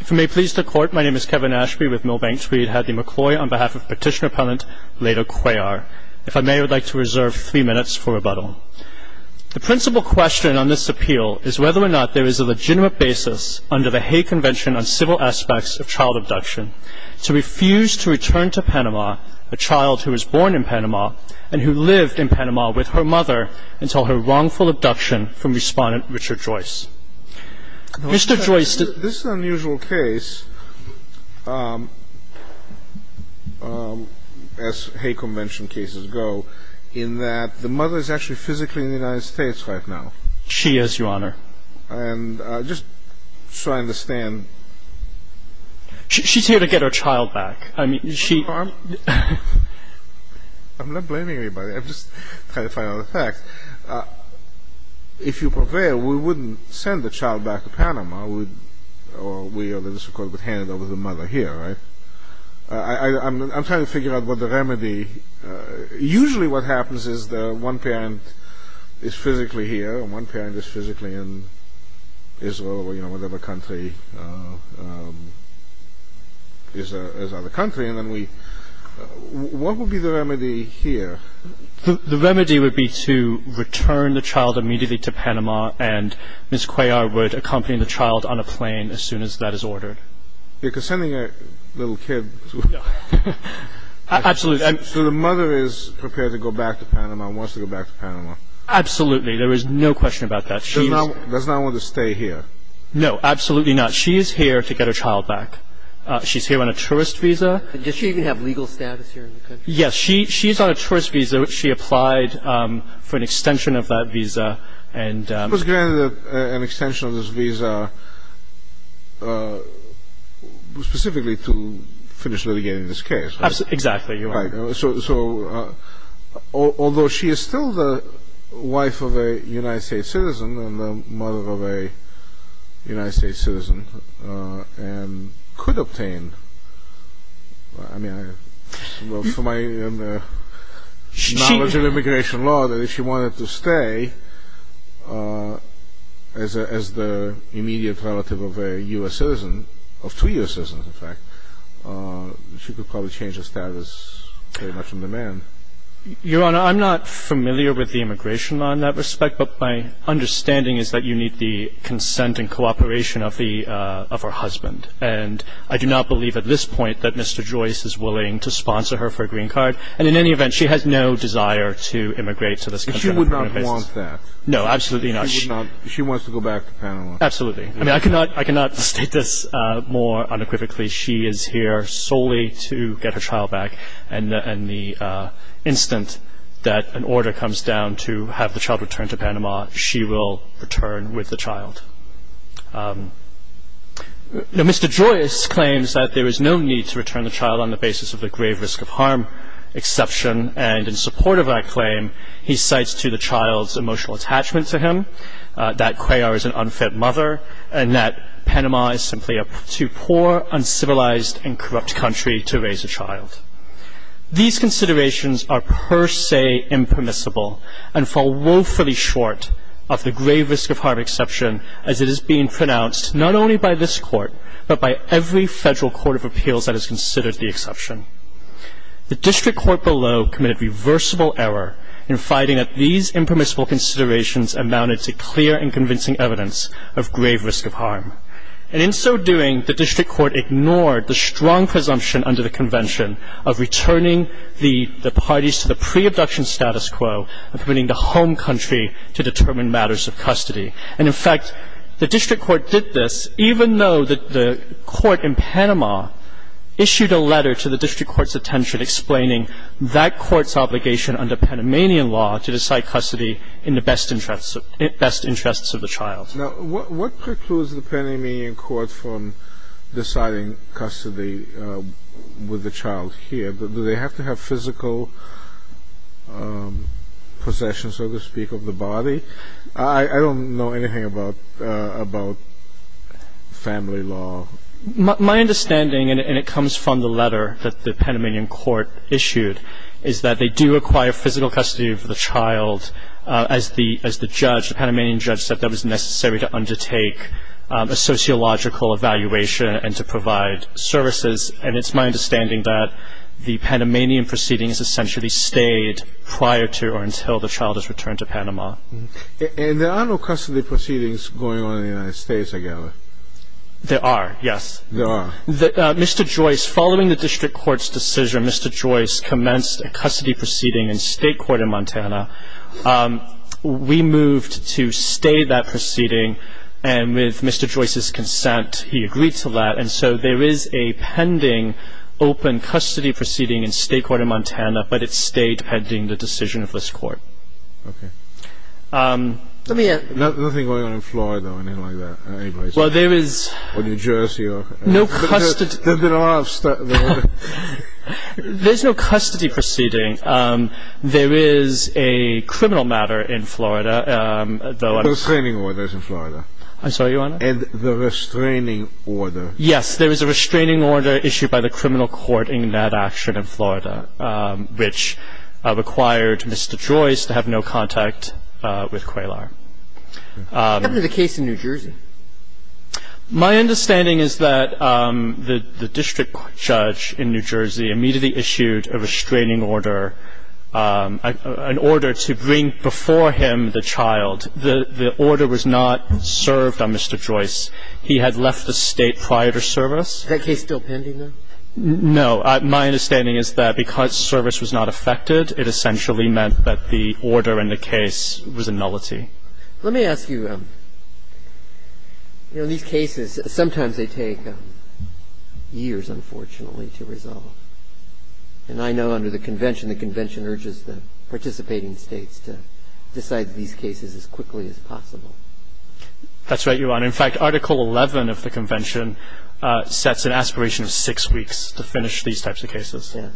If you may please the Court, my name is Kevin Ashby with Milbank Tweed. I have the McCloy on behalf of Petitioner Appellant Leda Cuellar. If I may, I would like to reserve three minutes for rebuttal. The principal question on this appeal is whether or not there is a legitimate basis under the Hague Convention on Civil Aspects of Child Abduction to refuse to return to Panama a child who was born in Panama and who lived in Panama with her mother until her wrongful abduction from Respondent Richard Joyce. Mr. Joyce This is an unusual case, as Hague Convention cases go, in that the mother is actually physically in the United States right now. She is, Your Honor. And just so I understand She's here to get her child back. I'm not blaming anybody. I'm just trying to find out the facts. If you prevail, we wouldn't send the child back to Panama. We would hand it over to the mother here, right? I'm trying to figure out what the remedy Usually what happens is that one parent is physically here and one parent is physically in Israel or whatever country. What would be the remedy here? The remedy would be to return the child immediately to Panama, and Ms. Cuellar would accompany the child on a plane as soon as that is ordered. Because sending a little kid to Absolutely. So the mother is prepared to go back to Panama and wants to go back to Panama. Absolutely. There is no question about that. She does not want to stay here. No, absolutely not. She is here to get her child back. She's here on a tourist visa. Does she even have legal status here in the country? Yes, she is on a tourist visa. She applied for an extension of that visa. She was granted an extension of this visa specifically to finish litigating this case. Exactly. Although she is still the wife of a United States citizen and the mother of a United States citizen, and could obtain, I mean, from my knowledge of immigration law, that if she wanted to stay as the immediate relative of a U.S. citizen, of two U.S. citizens in fact, she could probably change her status pretty much on demand. Your Honor, I'm not familiar with the immigration law in that respect, but my understanding is that you need the consent and cooperation of her husband. And I do not believe at this point that Mr. Joyce is willing to sponsor her for a green card. And in any event, she has no desire to immigrate to this country. She would not want that. No, absolutely not. She wants to go back to Panama. Absolutely. I mean, I cannot state this more unequivocally. She is here solely to get her child back. And the instant that an order comes down to have the child returned to Panama, she will return with the child. Mr. Joyce claims that there is no need to return the child on the basis of the grave risk of harm exception. And in support of that claim, he cites to the child's emotional attachment to him, that Cuellar is an unfit mother, and that Panama is simply a too poor, uncivilized, and corrupt country to raise a child. These considerations are per se impermissible and fall woefully short of the grave risk of harm exception as it is being pronounced not only by this Court, but by every federal court of appeals that has considered the exception. The district court below committed reversible error in finding that these impermissible considerations amounted to clear and convincing evidence of grave risk of harm. And in so doing, the district court ignored the strong presumption under the Convention of returning the parties to the pre-abduction status quo and permitting the home country to determine matters of custody. And, in fact, the district court did this even though the court in Panama issued a letter to the district court's attention explaining that court's obligation under Panamanian law to decide custody in the best interests of the child. Now, what precludes the Panamanian court from deciding custody with the child here? Do they have to have physical possession, so to speak, of the body? I don't know anything about family law. My understanding, and it comes from the letter that the Panamanian court issued, is that they do require physical custody of the child as the judge, the Panamanian judge said that was necessary to undertake a sociological evaluation and to provide services. And it's my understanding that the Panamanian proceedings essentially stayed prior to or until the child is returned to Panama. And there are no custody proceedings going on in the United States, I gather. There are, yes. There are. Mr. Joyce, following the district court's decision, Mr. Joyce commenced a custody proceeding in state court in Montana. We moved to stay that proceeding. And with Mr. Joyce's consent, he agreed to that. And so there is a pending open custody proceeding in state court in Montana, but it stayed pending the decision of this court. Okay. Nothing going on in Florida or anything like that? Well, there is no custody. There's no custody proceeding. There is a criminal matter in Florida. The restraining order is in Florida. I'm sorry, Your Honor? And the restraining order. Yes. There is a restraining order issued by the criminal court in that action in Florida which required Mr. Joyce to have no contact with QAILAR. What happened to the case in New Jersey? My understanding is that the district judge in New Jersey immediately issued a restraining order, an order to bring before him the child. The order was not served on Mr. Joyce. He had left the State prior to service. Is that case still pending, though? No. My understanding is that because service was not affected, it essentially meant that the order in the case was a nullity. Let me ask you, you know, these cases, sometimes they take years, unfortunately, to resolve. And I know under the Convention, the Convention urges the participating States to decide these cases as quickly as possible. That's right, Your Honor. In fact, Article 11 of the Convention sets an aspiration of six weeks to finish these types of cases. Yes.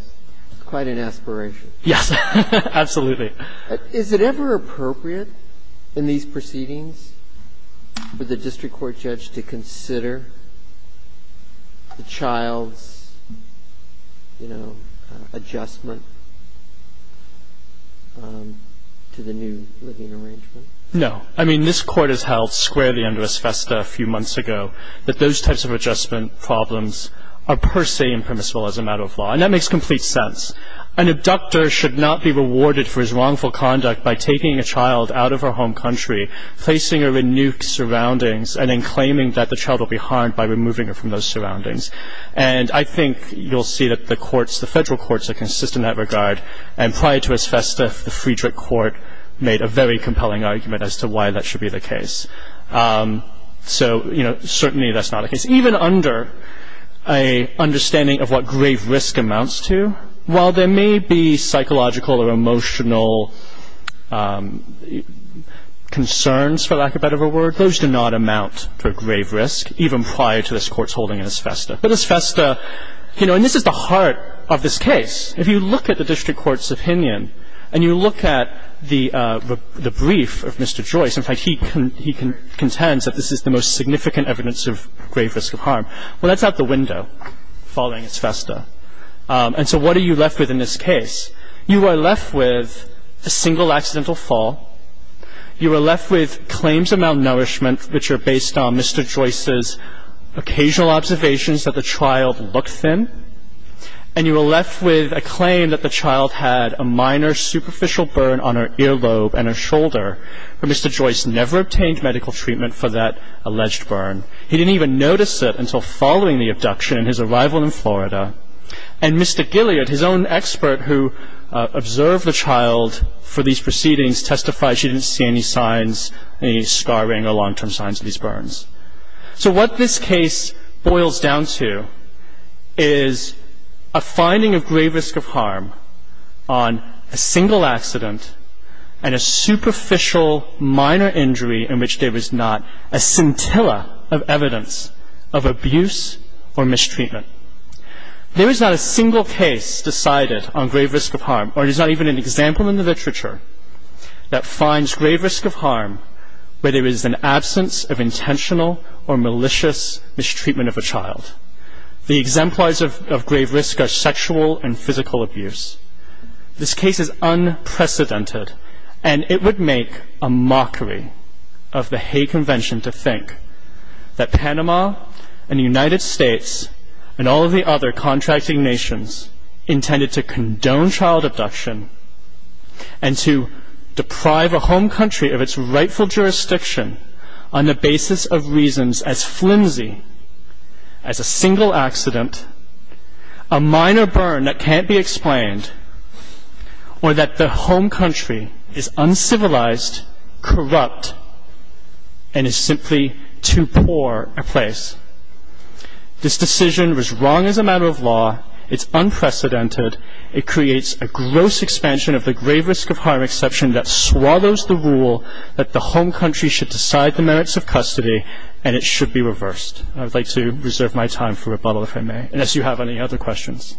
Quite an aspiration. Yes. Absolutely. Is it ever appropriate in these proceedings for the district court judge to consider the child's, you know, adjustment to the new living arrangement? No. I mean, this Court has held squarely under Asbestos a few months ago that those types of adjustment problems are per se impermissible as a matter of law. And that makes complete sense. An abductor should not be rewarded for his wrongful conduct by taking a child out of her home country, placing her in nuked surroundings, and then claiming that the child will be harmed by removing her from those surroundings. And I think you'll see that the courts, the federal courts are consistent in that regard. And prior to Asbestos, the Friedrich Court made a very compelling argument as to why that should be the case. So, you know, certainly that's not the case. Even under an understanding of what grave risk amounts to, while there may be psychological or emotional concerns, for lack of a better word, those do not amount to a grave risk, even prior to this Court's holding of Asbestos. But Asbestos, you know, and this is the heart of this case. If you look at the district court's opinion and you look at the brief of Mr. Joyce, in fact, he contends that this is the most significant evidence of grave risk of harm. Well, that's out the window following Asbestos. And so what are you left with in this case? You are left with a single accidental fall. You are left with claims of malnourishment which are based on Mr. Joyce's occasional observations that the child looked thin. And you are left with a claim that the child had a minor superficial burn on her and Mr. Joyce never obtained medical treatment for that alleged burn. He didn't even notice it until following the abduction and his arrival in Florida. And Mr. Gilead, his own expert who observed the child for these proceedings, testified she didn't see any signs, any scarring or long-term signs of these burns. So what this case boils down to is a finding of grave risk of harm on a single accident and a superficial minor injury in which there is not a scintilla of evidence of abuse or mistreatment. There is not a single case decided on grave risk of harm, or there's not even an example in the literature that finds grave risk of harm where there is an absence of intentional or malicious mistreatment of a child. The exemplars of grave risk are sexual and physical abuse. This case is unprecedented and it would make a mockery of the Hay Convention to think that Panama and the United States and all of the other contracting nations intended to condone child abduction and to deprive a home country of its rightful jurisdiction on the basis of reasons as flimsy as a single accident, a minor burn that can't be explained, or that the home country is uncivilized, corrupt, and is simply too poor a place. This decision was wrong as a matter of law. It's unprecedented. It creates a gross expansion of the grave risk of harm exception that swallows the rule that the home country should decide the merits of custody and it should be reversed. I would like to reserve my time for rebuttal, if I may, unless you have any other questions.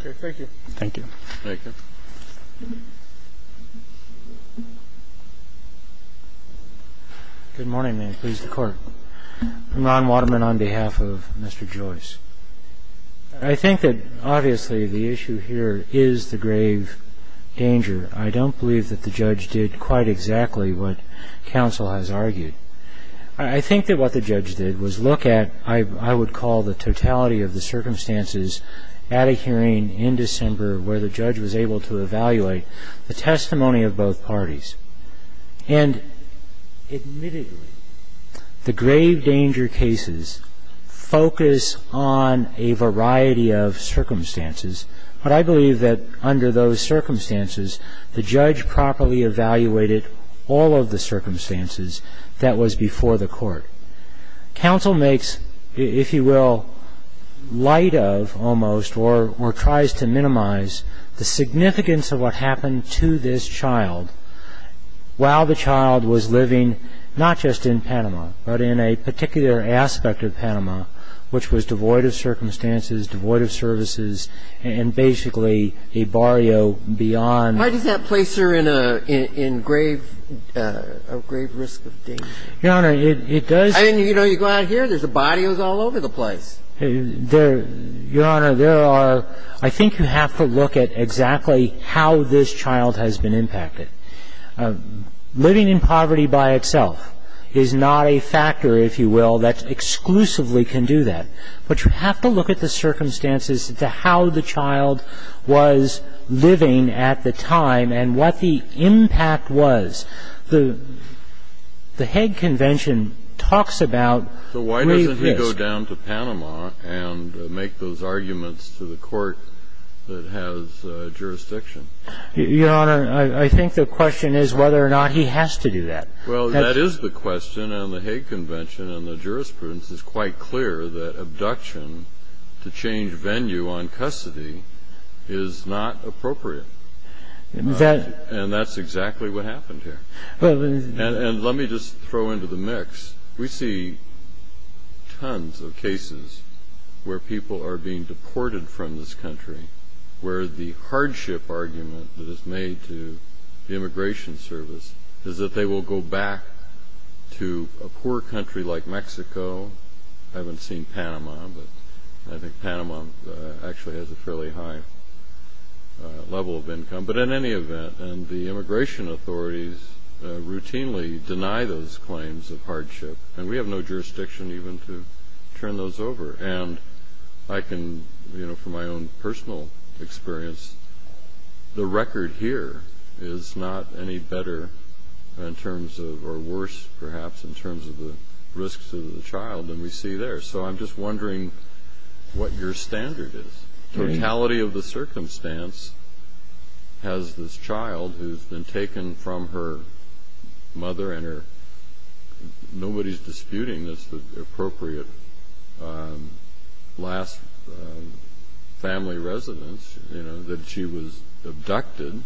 Okay. Thank you. Thank you. Thank you. Good morning, and please, the Court. Ron Waterman on behalf of Mr. Joyce. I think that, obviously, the issue here is the grave danger. I don't believe that the judge did quite exactly what counsel has argued. I think that what the judge did was look at, I would call the totality of the circumstances at a hearing in December where the judge was able to evaluate the testimony of both parties. And admittedly, the grave danger cases focus on a variety of circumstances, but I believe that under those circumstances, the judge properly evaluated all of the circumstances that was before the court. Counsel makes, if you will, light of, almost, or tries to minimize the significance of what happened to this child while the child was living not just in Panama, but in a particular aspect of Panama, which was devoid of circumstances, devoid of services, and basically a barrio beyond. Why does that place her in a grave risk of danger? Your Honor, it does. I mean, you go out here, there's a barrio all over the place. Your Honor, there are. I think you have to look at exactly how this child has been impacted. Living in poverty by itself is not a factor, if you will, that exclusively can do that. But you have to look at the circumstances to how the child was living at the time and what the impact was. The Hague Convention talks about grave risk. So why doesn't he go down to Panama and make those arguments to the court that has jurisdiction? Your Honor, I think the question is whether or not he has to do that. Well, that is the question. And the Hague Convention and the jurisprudence is quite clear that abduction to change venue on custody is not appropriate. And that's exactly what happened here. And let me just throw into the mix, we see tons of cases where people are being deported from this country, where the hardship argument that is made to the Immigration Service is that they will go back to a poor country like Mexico. I haven't seen Panama, but I think Panama actually has a fairly high level of income. But in any event, the immigration authorities routinely deny those claims of hardship, and we have no jurisdiction even to turn those over. And I can, you know, from my own personal experience, the record here is not any better in terms of, or worse, perhaps, in terms of the risks to the child than we see there. So I'm just wondering what your standard is. Totality of the circumstance has this child who's been taken from her mother, and nobody's disputing this, the appropriate last family residence, you know, that she was abducted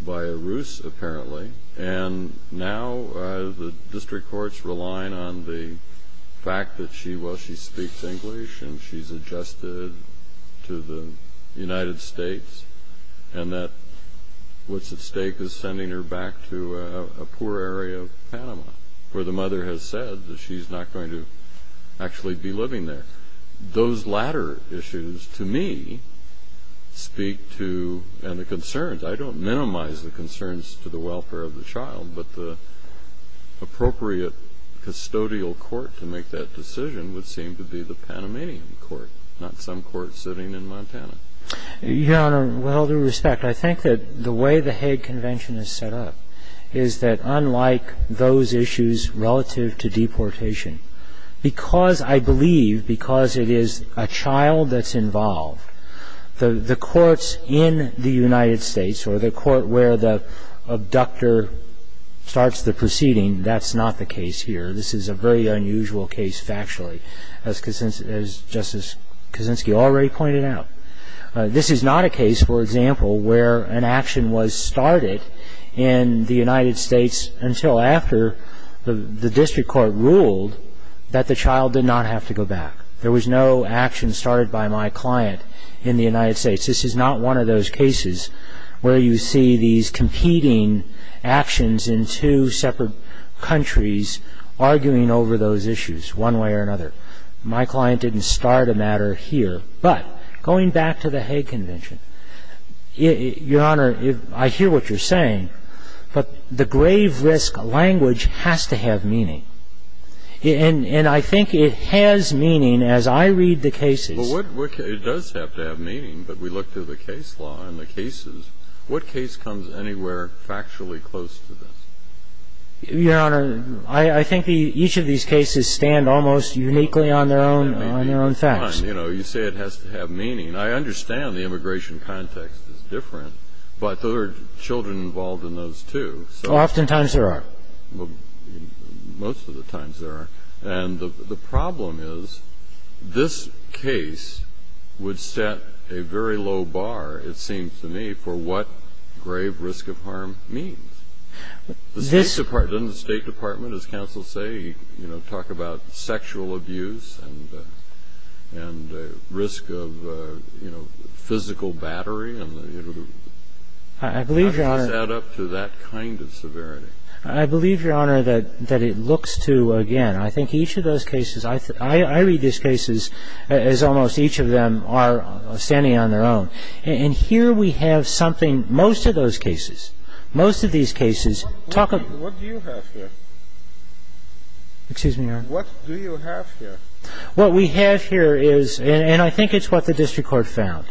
by a ruse apparently, and now the district court's relying on the fact that she, well, she speaks English and she's adjusted to the United States, and that what's at stake is sending her back to a poor area of Panama where the mother has said that she's not going to actually be living there. Those latter issues to me speak to, and the concerns, I don't minimize the concerns to the welfare of the child, but the appropriate custodial court to make that decision would seem to be the Panamanian court, not some court sitting in Montana. Your Honor, with all due respect, I think that the way the Hague Convention is set up is that unlike those issues relative to deportation, because I believe, because it is a child that's involved, the courts in the United States or the court where the abductor starts the proceeding, that's not the case here. This is a very unusual case factually, as Justice Kaczynski already pointed out. This is not a case, for example, where an action was started in the United States until after the district court ruled that the child did not have to go back. There was no action started by my client in the United States. This is not one of those cases where you see these competing actions in two separate countries arguing over those issues one way or another. My client didn't start a matter here. But going back to the Hague Convention, Your Honor, I hear what you're saying, but the grave risk language has to have meaning. And I think it has meaning as I read the cases. Well, it does have to have meaning, but we look through the case law and the cases. What case comes anywhere factually close to this? Your Honor, I think each of these cases stand almost uniquely on their own facts. You say it has to have meaning. I understand the immigration context is different, but there are children involved in those, too. Oftentimes there are. Most of the times there are. And the problem is this case would set a very low bar, it seems to me, for what grave risk of harm means. Doesn't the State Department, as counsel say, talk about sexual abuse and risk of physical battery? It would set up to that kind of severity. I believe, Your Honor, that it looks to, again, I think each of those cases, I read these cases as almost each of them are standing on their own. And here we have something, most of those cases, most of these cases, talk about What do you have here? Excuse me, Your Honor. What do you have here? What we have here is, and I think it's what the district court found,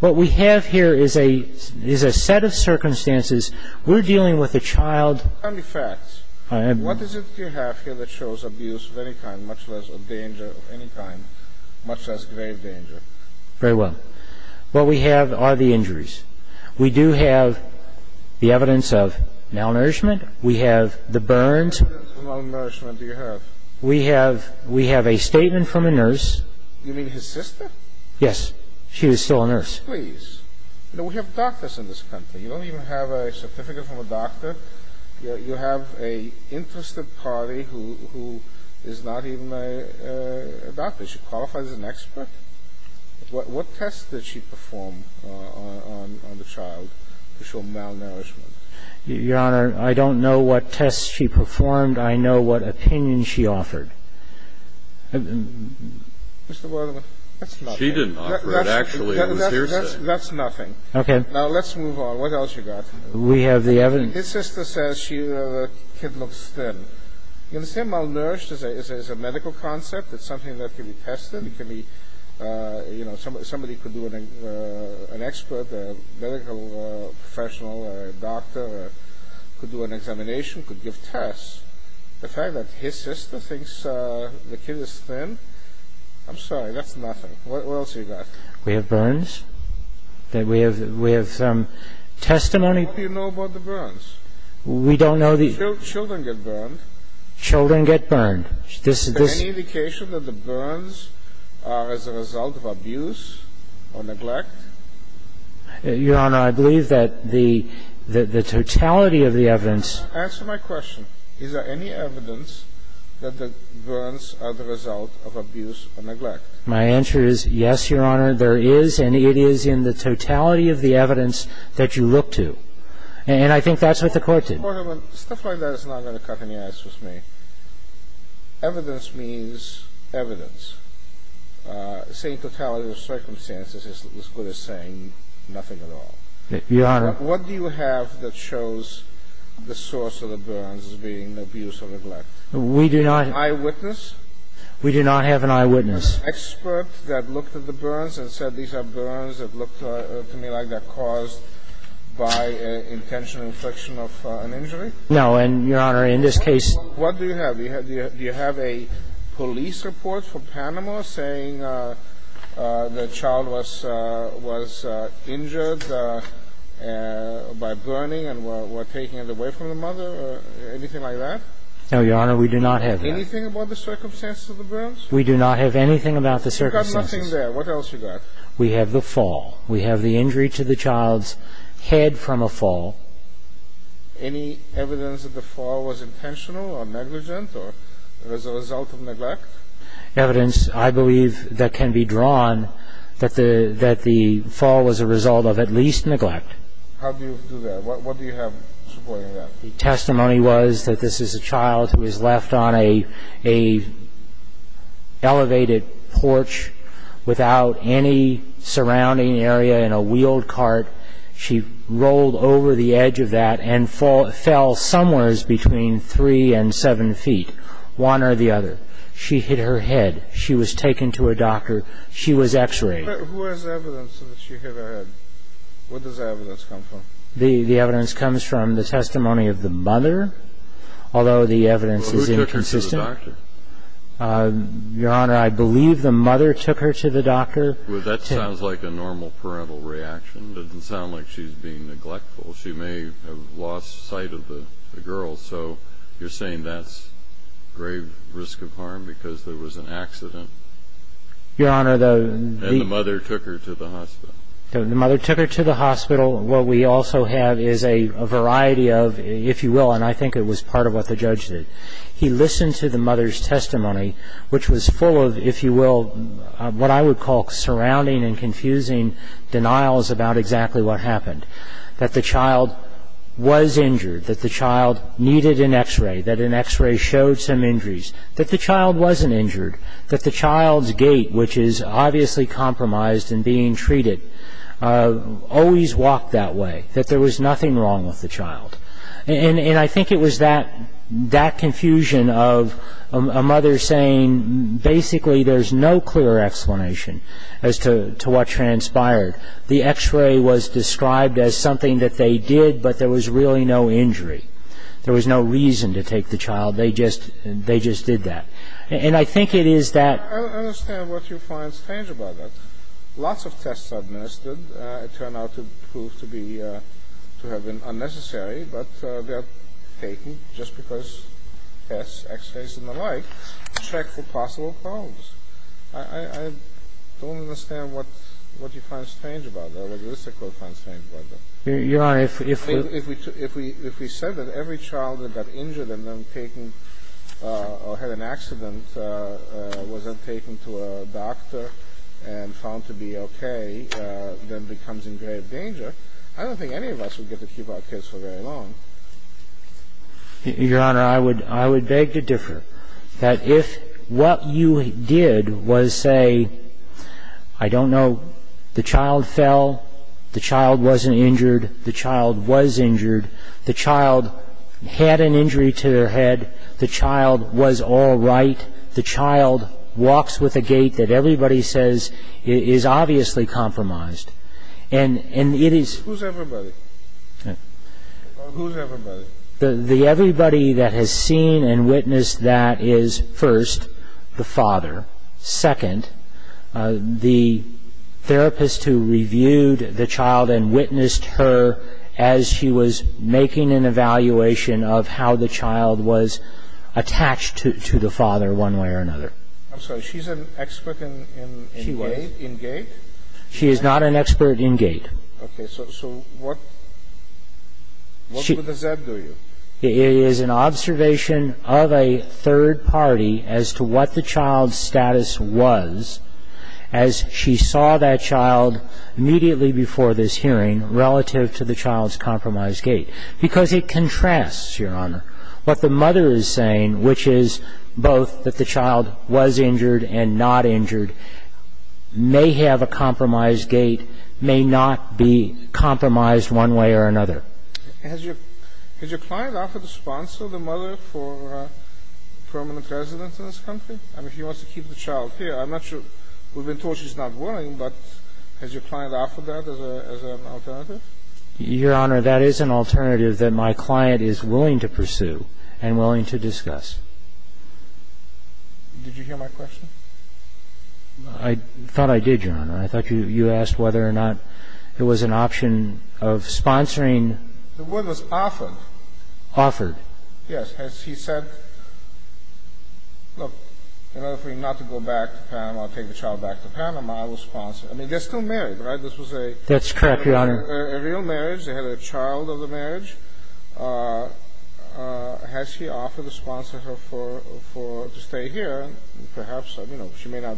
what we have here is a set of circumstances. We're dealing with a child. Tell me facts. What is it you have here that shows abuse of any kind, much less a danger of any kind, much less grave danger? Very well. What we have are the injuries. We do have the evidence of malnourishment. We have the burns. What evidence of malnourishment do you have? We have a statement from a nurse. You mean his sister? Yes. She was still a nurse. Please. You know, we have doctors in this country. You don't even have a certificate from a doctor. You have an interested party who is not even a doctor. She qualifies as an expert. What tests did she perform on the child to show malnourishment? Your Honor, I don't know what tests she performed. I know what opinion she offered. Mr. Wertheimer, that's nothing. She didn't offer it. Actually, it was hearsay. That's nothing. Okay. Now, let's move on. What else you got? We have the evidence. His sister says the kid looks thin. You can say malnourished is a medical concept. It's something that can be tested. It can be, you know, somebody could do it, an expert, a medical professional, a doctor, could do an examination, could give tests. The fact that his sister thinks the kid is thin, I'm sorry, that's nothing. What else you got? We have burns. We have testimony. What do you know about the burns? We don't know the... Children get burned. Children get burned. Any indication that the burns are as a result of abuse or neglect? Your Honor, I believe that the totality of the evidence... Answer my question. Is there any evidence that the burns are the result of abuse or neglect? My answer is yes, Your Honor. There is, and it is in the totality of the evidence that you look to. And I think that's what the Court did. Your Honor, stuff like that is not going to cut any ice with me. Evidence means evidence. Saying totality of circumstances is as good as saying nothing at all. Your Honor... What do you have that shows the source of the burns as being abuse or neglect? We do not... An eyewitness? We do not have an eyewitness. An expert that looked at the burns and said, These are burns that look to me like they're caused by intentional infliction of an injury? No, and, Your Honor, in this case... What do you have? Do you have a police report from Panama saying the child was injured by burning and were taken away from the mother or anything like that? No, Your Honor, we do not have that. Anything about the circumstances of the burns? We do not have anything about the circumstances. You've got nothing there. What else have you got? We have the fall. We have the injury to the child's head from a fall. Any evidence that the fall was intentional or negligent or as a result of neglect? Evidence, I believe, that can be drawn that the fall was a result of at least neglect. How do you do that? What do you have supporting that? The testimony was that this is a child who was left on an elevated porch without any surrounding area in a wheeled cart. She rolled over the edge of that and fell somewhere between 3 and 7 feet, one or the other. She hit her head. She was taken to a doctor. She was X-rayed. Who has evidence that she hit her head? Where does that evidence come from? The evidence comes from the testimony of the mother, although the evidence is inconsistent. Who took her to the doctor? Your Honor, I believe the mother took her to the doctor. Well, that sounds like a normal parental reaction. It doesn't sound like she's being neglectful. She may have lost sight of the girl. So you're saying that's grave risk of harm because there was an accident? Your Honor, the... And the mother took her to the hospital. The mother took her to the hospital. What we also have is a variety of, if you will, and I think it was part of what the judge did, he listened to the mother's testimony, which was full of, if you will, what I would call surrounding and confusing denials about exactly what happened, that the child was injured, that the child needed an X-ray, that an X-ray showed some injuries, that the child wasn't injured, that the child's gait, which is obviously compromised and being treated, always walked that way, that there was nothing wrong with the child. And I think it was that confusion of a mother saying basically there's no clearer explanation as to what transpired. The X-ray was described as something that they did, but there was really no injury. There was no reason to take the child. They just did that. And I think it is that... I don't understand what you find strange about that. Lots of tests administered. It turned out to prove to be, to have been unnecessary, but they are taken just because tests, X-rays and the like, check for possible problems. I don't understand what you find strange about that, what you would find strange about that. Yeah, if... If we said that every child that got injured and then taken or had an accident wasn't taken to a doctor and found to be okay, then becomes in grave danger, I don't think any of us would get to keep our kids for very long. Your Honor, I would beg to differ. That if what you did was say, I don't know, the child fell, the child wasn't injured, the child was injured, the child had an injury to their head, the child was all right, the child walks with a gait that everybody says is obviously compromised. And it is... Who's everybody? Who's everybody? The everybody that has seen and witnessed that is, first, the father. Second, the therapist who reviewed the child and witnessed her as she was making an evaluation of how the child was attached to the father one way or another. I'm sorry, she's an expert in gait? She is not an expert in gait. Okay, so what does that do you? It is an observation of a third party as to what the child's status was as she saw that child immediately before this hearing relative to the child's compromised gait. Because it contrasts, Your Honor, what the mother is saying, which is both that the child was injured and not injured, may have a compromised gait, may not be compromised one way or another. Has your client offered to sponsor the mother for permanent residence in this country? I mean, she wants to keep the child here. I'm not sure. We've been told she's not willing, but has your client offered that as an alternative? Your Honor, that is an alternative that my client is willing to pursue and willing to discuss. Did you hear my question? I thought I did, Your Honor. I thought you asked whether or not there was an option of sponsoring. The word was offered. Offered. Yes. Has he said, look, in order for you not to go back to Panama or take the child back to Panama, I will sponsor. I mean, they're still married, right? This was a real marriage. That's correct, Your Honor. They had a child of the marriage. Has he offered to sponsor her to stay here? Your Honor, I don't think that's an option. I can't tell you whether or not there is an option. And perhaps, I mean, she may not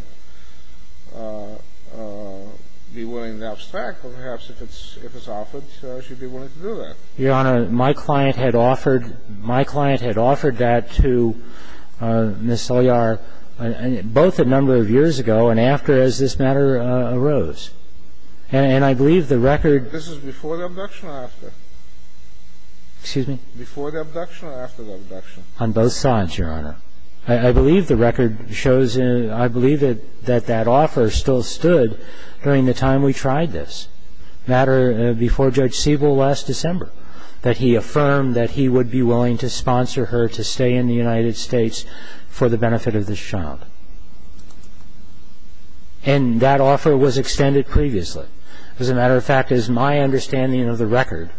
be willing to abstract, but perhaps if it's offered, she'd be willing to do that. Your Honor, my client had offered that to Ms. Selyar, both a number of years ago and after this matter arose. And I believe the record This is before the abduction or after? Excuse me? Before the abduction or after the abduction? On both sides, Your Honor. I believe the record shows, I believe that that offer still stood during the time we tried this matter before Judge Siebel last December, that he affirmed that he would be willing to sponsor her to stay in the United States for the benefit of this child. And that offer was extended previously. As a matter of fact, as my understanding of the record,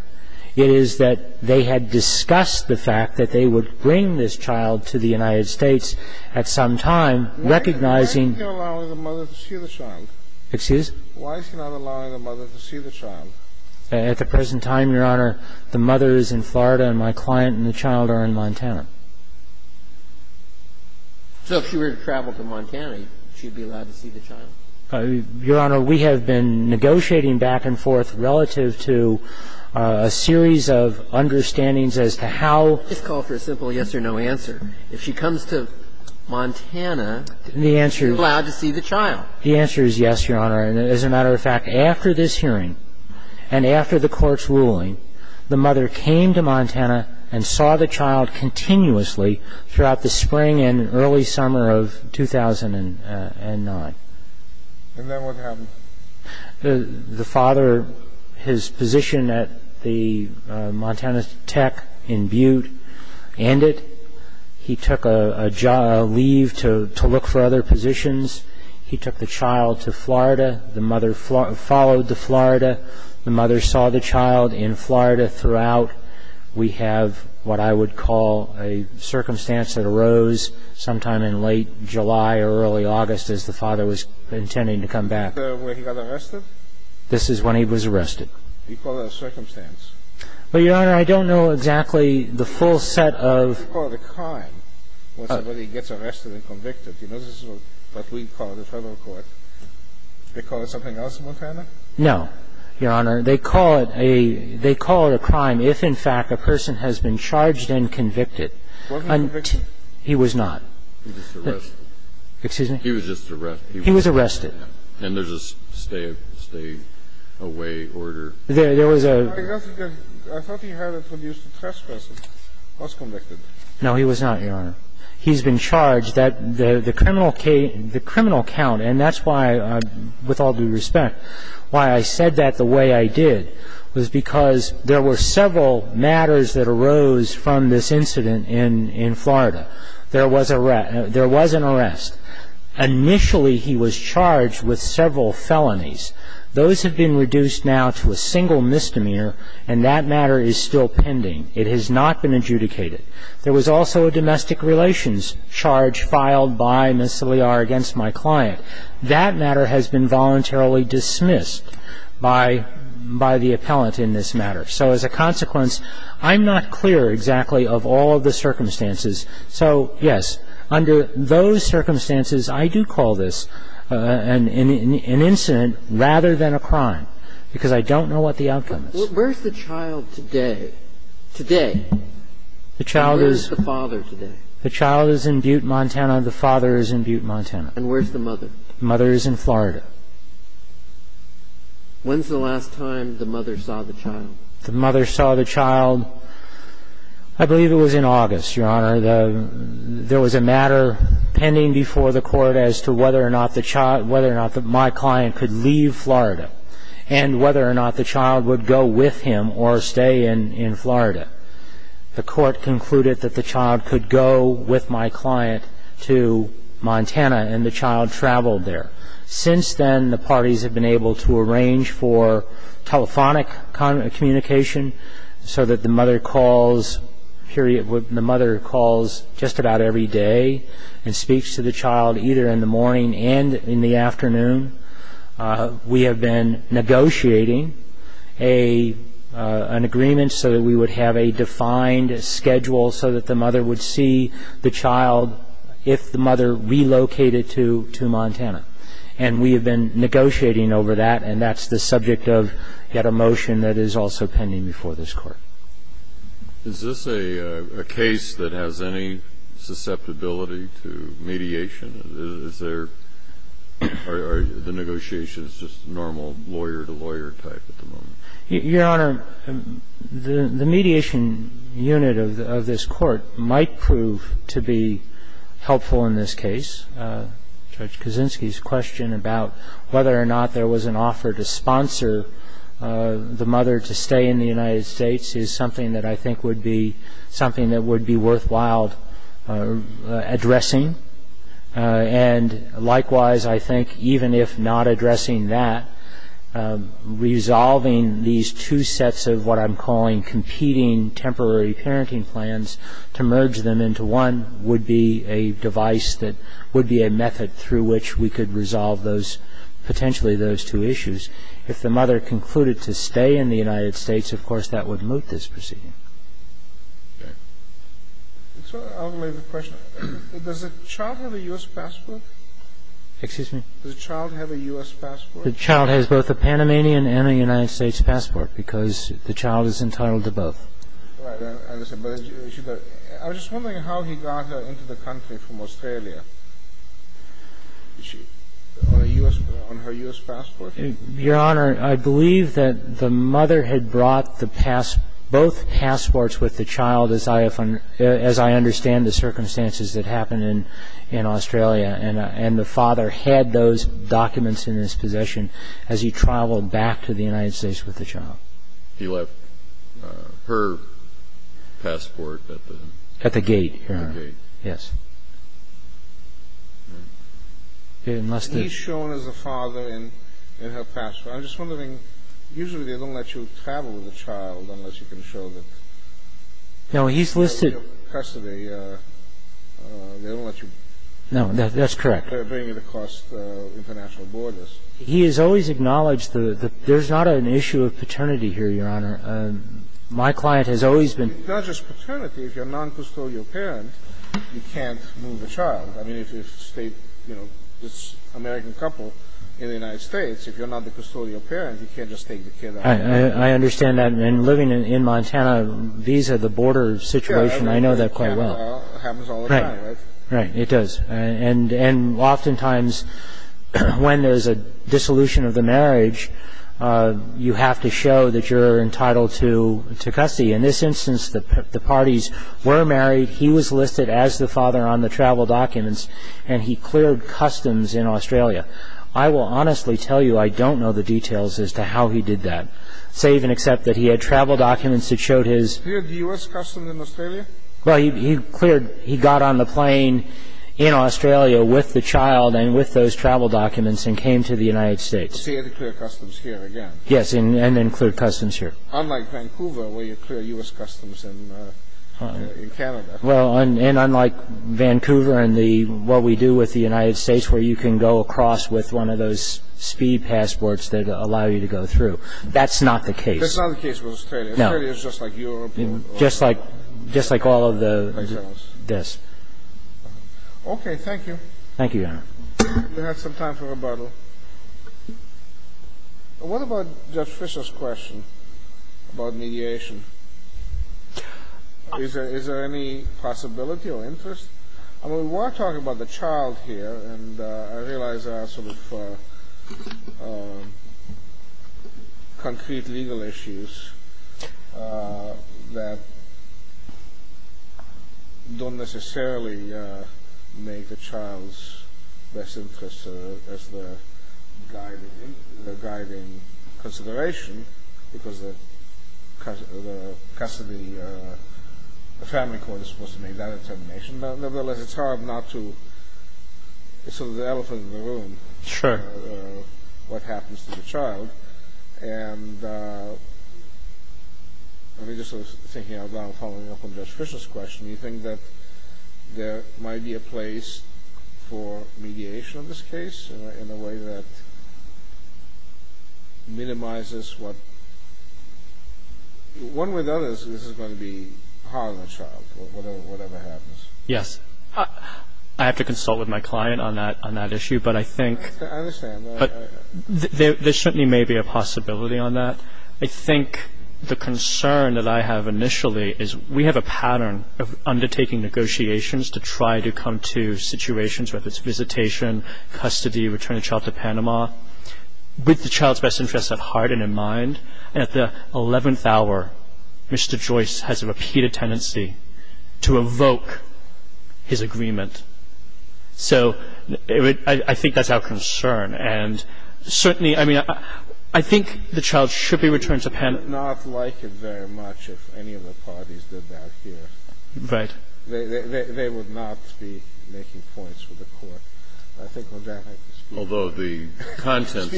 it is that they had discussed the fact that they would bring this child to the United States at some time, recognizing Why is she not allowing the mother to see the child? Excuse? Why is she not allowing the mother to see the child? At the present time, Your Honor, the mother is in Florida and my client and the child are in Montana. So if she were to travel to Montana, she'd be allowed to see the child? Your Honor, we have been negotiating back and forth relative to a series of understandings as to how Just call for a simple yes or no answer. If she comes to Montana, she's allowed to see the child. The answer is yes, Your Honor. And as a matter of fact, after this hearing and after the court's ruling, the mother came to Montana and saw the child continuously throughout the spring and early summer of 2009. And then what happened? The father, his position at the Montana Tech in Butte ended. He took a leave to look for other positions. He took the child to Florida. The mother followed the Florida. The mother saw the child in Florida throughout. We have what I would call a circumstance that arose sometime in late July or early August as the father was intending to come back. Is this where he got arrested? This is when he was arrested. You call it a circumstance? Well, Your Honor, I don't know exactly the full set of You call it a crime when somebody gets arrested and convicted. You know, this is what we call the federal court. They call it something else in Montana? No, Your Honor. They call it a crime if, in fact, a person has been charged and convicted. He wasn't convicted? He was not. He was just arrested. Excuse me? He was just arrested. He was arrested. And there's a stay-away order. There was a I thought he had introduced a trespasser. He was convicted. No, he was not, Your Honor. He's been charged. He's been charged. The criminal count, and that's why, with all due respect, why I said that the way I did was because there were several matters that arose from this incident in Florida. There was an arrest. Initially, he was charged with several felonies. Those have been reduced now to a single misdemeanor, and that matter is still pending. It has not been adjudicated. There was also a domestic relations charge filed by Ms. Saliar against my client. That matter has been voluntarily dismissed by the appellant in this matter. So as a consequence, I'm not clear exactly of all of the circumstances. So, yes, under those circumstances, I do call this an incident rather than a crime, because I don't know what the outcome is. Where's the child today? Today? Where's the father today? The child is in Butte, Montana. The father is in Butte, Montana. And where's the mother? The mother is in Florida. When's the last time the mother saw the child? The mother saw the child, I believe it was in August, Your Honor. There was a matter pending before the court as to whether or not my client could leave Florida and whether or not the child would go with him or stay in Florida. The court concluded that the child could go with my client to Montana, and the child traveled there. Since then, the parties have been able to arrange for telephonic communication so that the mother calls just about every day and speaks to the child either in the morning and in the afternoon. We have been negotiating an agreement so that we would have a defined schedule so that the mother would see the child if the mother relocated to Montana. And we have been negotiating over that, and that's the subject of yet a motion that is also pending before this Court. Is this a case that has any susceptibility to mediation? Is there or are the negotiations just normal lawyer-to-lawyer type at the moment? Your Honor, the mediation unit of this Court might prove to be helpful in this case. Judge Kaczynski's question about whether or not there was an offer to sponsor the mother to stay in the United States is something that I think would be worthwhile addressing. And likewise, I think even if not addressing that, resolving these two sets of what I'm calling competing temporary parenting plans to merge them into one would be a device that would be a method through which we could resolve potentially those two issues. If the mother concluded to stay in the United States, of course, that would moot this proceeding. Okay. I'll relay the question. Does the child have a U.S. passport? Excuse me? Does the child have a U.S. passport? The child has both a Panamanian and a United States passport because the child is entitled to both. Right. I was just wondering how he got her into the country from Australia. Is she on her U.S. passport? Your Honor, I believe that the mother had brought both passports with the child, as I understand the circumstances that happened in Australia, and the father had those documents in his possession as he traveled back to the United States with the child. He left her passport at the gate? At the gate, Your Honor. At the gate. Yes. He's shown as a father in her passport. I'm just wondering, usually they don't let you travel with a child unless you can show that. No, he's listed. They don't let you bring it across international borders. He has always acknowledged that there's not an issue of paternity here, Your Honor. My client has always been. It's not just paternity. If you're a noncustodial parent, you can't move a child. I mean, if you're an American couple in the United States, if you're not the custodial parent, you can't just take the kid out. I understand that. And living in Montana, these are the border situations. I know that quite well. It happens all the time, right? Right. It does. And oftentimes when there's a dissolution of the marriage, you have to show that you're entitled to custody. In this instance, the parties were married. He was listed as the father on the travel documents, and he cleared customs in Australia. I will honestly tell you I don't know the details as to how he did that, save and except that he had travel documents that showed his ---- He cleared the U.S. customs in Australia? Well, he cleared ---- he got on the plane in Australia with the child and with those travel documents and came to the United States. So he had to clear customs here again? Yes, and then clear customs here. Unlike Vancouver, where you clear U.S. customs in Canada. Well, and unlike Vancouver and what we do with the United States, where you can go across with one of those speed passports that allow you to go through. That's not the case. That's not the case with Australia? No. Australia is just like Europe? Just like all of the ---- Like France? Yes. Okay. Thank you. Thank you, Your Honor. We have some time for rebuttal. What about Judge Fischer's question about mediation? Is there any possibility or interest? I mean, we were talking about the child here, and I realize there are sort of concrete legal issues that don't necessarily make the child's best interest as their guiding consideration, because the custody, the family court is supposed to make that determination. Nevertheless, it's hard not to. It's sort of the elephant in the room, what happens to the child. And I was just thinking about following up on Judge Fischer's question. Do you think that there might be a place for mediation in this case in a way that minimizes what ---- One way or another, this is going to be hard on the child, whatever happens. Yes. I have to consult with my client on that issue, but I think ---- I understand. But there certainly may be a possibility on that. I think the concern that I have initially is we have a pattern of undertaking negotiations to try to come to situations whether it's visitation, custody, returning the child to Panama. With the child's best interest at heart and in mind, at the eleventh hour Mr. Joyce has a repeated tendency to evoke his agreement. So I think that's our concern. And certainly, I mean, I think the child should be returned to Panama. I would not like it very much if any of the parties did that here. Right. They would not be making points for the Court. I think on that I can speak. Although the contents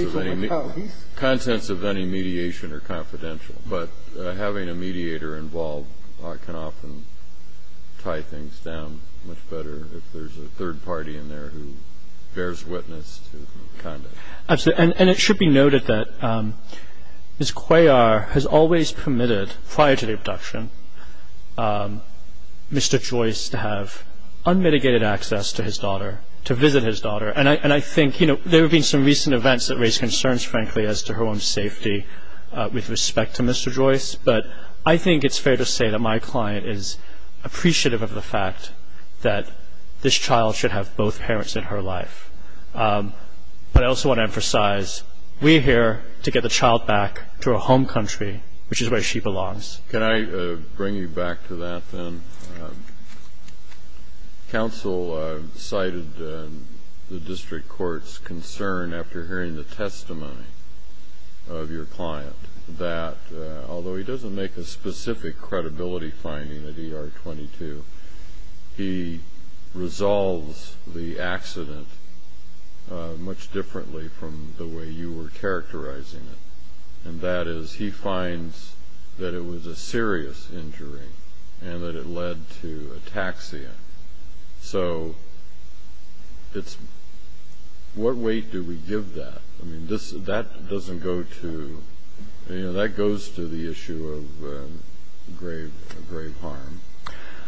of any mediation are confidential, but having a mediator involved can often tie things down much better if there's a third party in there who bears witness to the conduct. And it should be noted that Ms. Cuellar has always permitted prior to the abduction Mr. Joyce to have unmitigated access to his daughter, to visit his daughter. And I think there have been some recent events that raise concerns, frankly, as to her own safety with respect to Mr. Joyce. But I think it's fair to say that my client is appreciative of the fact that this child should have both parents in her life. But I also want to emphasize we're here to get the child back to her home country, which is where she belongs. Can I bring you back to that, then? Counsel cited the District Court's concern after hearing the testimony of your client that although he doesn't make a specific credibility finding at ER-22, he resolves the accident much differently from the way you were characterizing it. And that is he finds that it was a serious injury and that it led to ataxia. So what weight do we give that? I mean, that doesn't go to the issue of grave harm.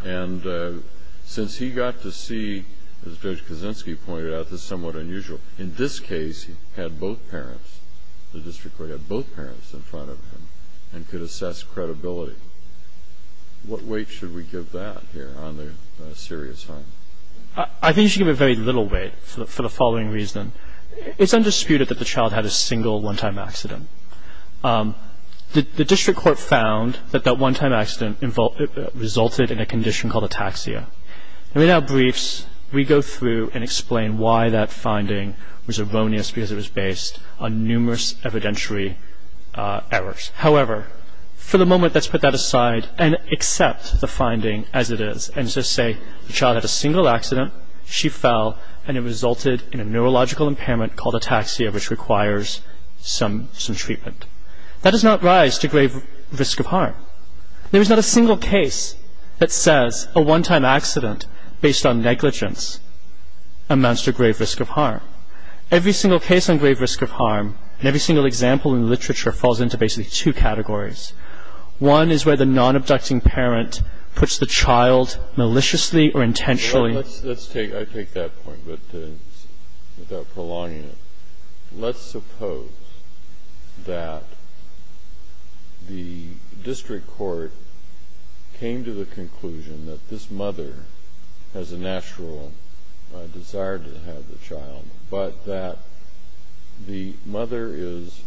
And since he got to see, as Judge Kaczynski pointed out, this is somewhat unusual. In this case, he had both parents. The District Court had both parents in front of him and could assess credibility. What weight should we give that here on the serious harm? I think you should give it very little weight for the following reason. It's undisputed that the child had a single one-time accident. The District Court found that that one-time accident resulted in a condition called ataxia. And without briefs, we go through and explain why that finding was erroneous because it was based on numerous evidentiary errors. However, for the moment, let's put that aside and accept the finding as it is and just say the child had a single accident, she fell, and it resulted in a neurological impairment called ataxia which requires some treatment. That does not rise to grave risk of harm. There is not a single case that says a one-time accident based on negligence amounts to grave risk of harm. Every single case on grave risk of harm and every single example in the literature falls into basically two categories. One is where the non-abducting parent puts the child maliciously or intentionally. I take that point, but without prolonging it. Let's suppose that the District Court came to the conclusion that this mother has a natural desire to have the child, but that the mother is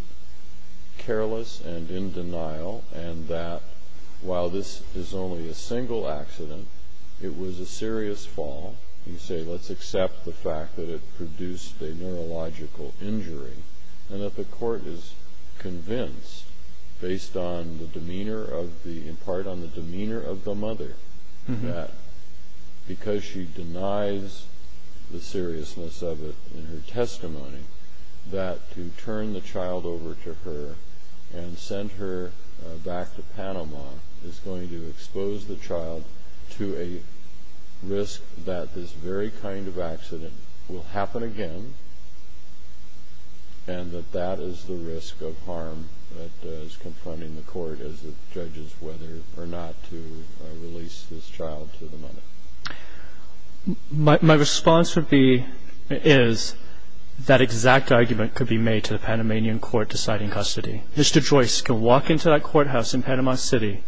careless and in denial and that while this is only a single accident, it was a serious fall. You say, let's accept the fact that it produced a neurological injury and that the court is convinced based in part on the demeanor of the mother that because she denies the seriousness of it in her testimony, that to turn the child over to her and send her back to Panama is going to expose the child to a risk that this very kind of accident will happen again and that that is the risk of harm that is confronting the court as it judges whether or not to release this child to the mother. My response is that exact argument could be made to the Panamanian court deciding custody. Mr. Joyce can walk into that courthouse in Panama City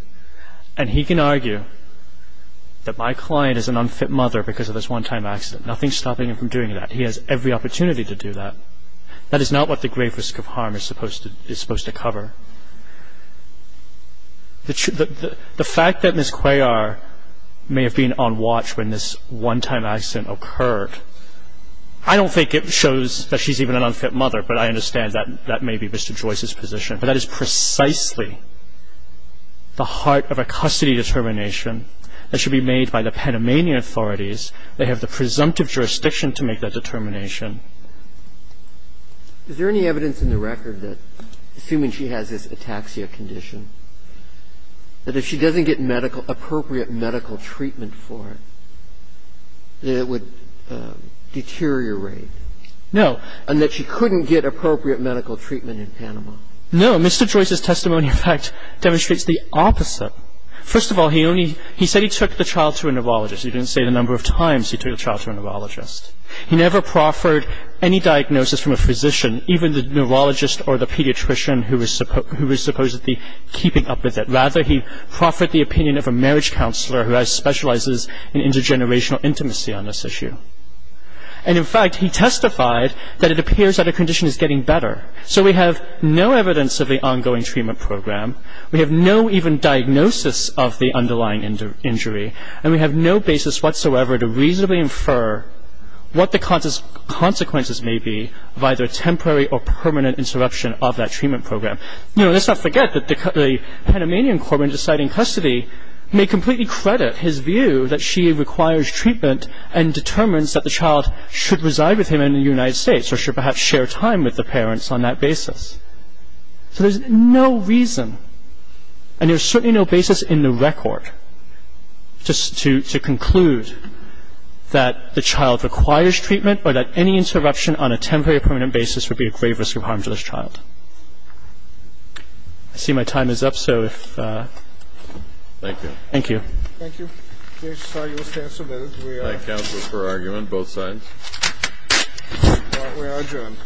and he can argue that my client is an unfit mother because of this one-time accident. Nothing is stopping him from doing that. He has every opportunity to do that. That is not what the grave risk of harm is supposed to cover. The fact that Ms. Cuellar may have been on watch when this one-time accident occurred, I don't think it shows that she's even an unfit mother, but I understand that that may be Mr. Joyce's position. But that is precisely the heart of a custody determination that should be made by the Panamanian authorities. They have the presumptive jurisdiction to make that determination. Is there any evidence in the record that, assuming she has this ataxia condition, that if she doesn't get medical – appropriate medical treatment for it, that it would deteriorate? No. And that she couldn't get appropriate medical treatment in Panama? No. Mr. Joyce's testimony, in fact, demonstrates the opposite. First of all, he only – he said he took the child to a neurologist. He didn't say the number of times he took the child to a neurologist. He never proffered any diagnosis from a physician, even the neurologist or the pediatrician who was supposedly keeping up with it. Rather, he proffered the opinion of a marriage counselor who specializes in intergenerational intimacy on this issue. And, in fact, he testified that it appears that her condition is getting better. So we have no evidence of the ongoing treatment program. We have no even diagnosis of the underlying injury. And we have no basis whatsoever to reasonably infer what the consequences may be of either a temporary or permanent interruption of that treatment program. You know, let's not forget that the Panamanian corpsman deciding custody may completely credit his view that she requires treatment and determines that the child should reside with him in the United States or should perhaps share time with the parents on that basis. So there's no reason, and there's certainly no basis in the record, just to conclude that the child requires treatment or that any interruption on a temporary or permanent basis would be a grave risk of harm to this child. I see my time is up, so if... Thank you. Thank you. Thank you. I'm sorry you have to stand so close. We are... Counsel for argument, both sides. We are adjourned.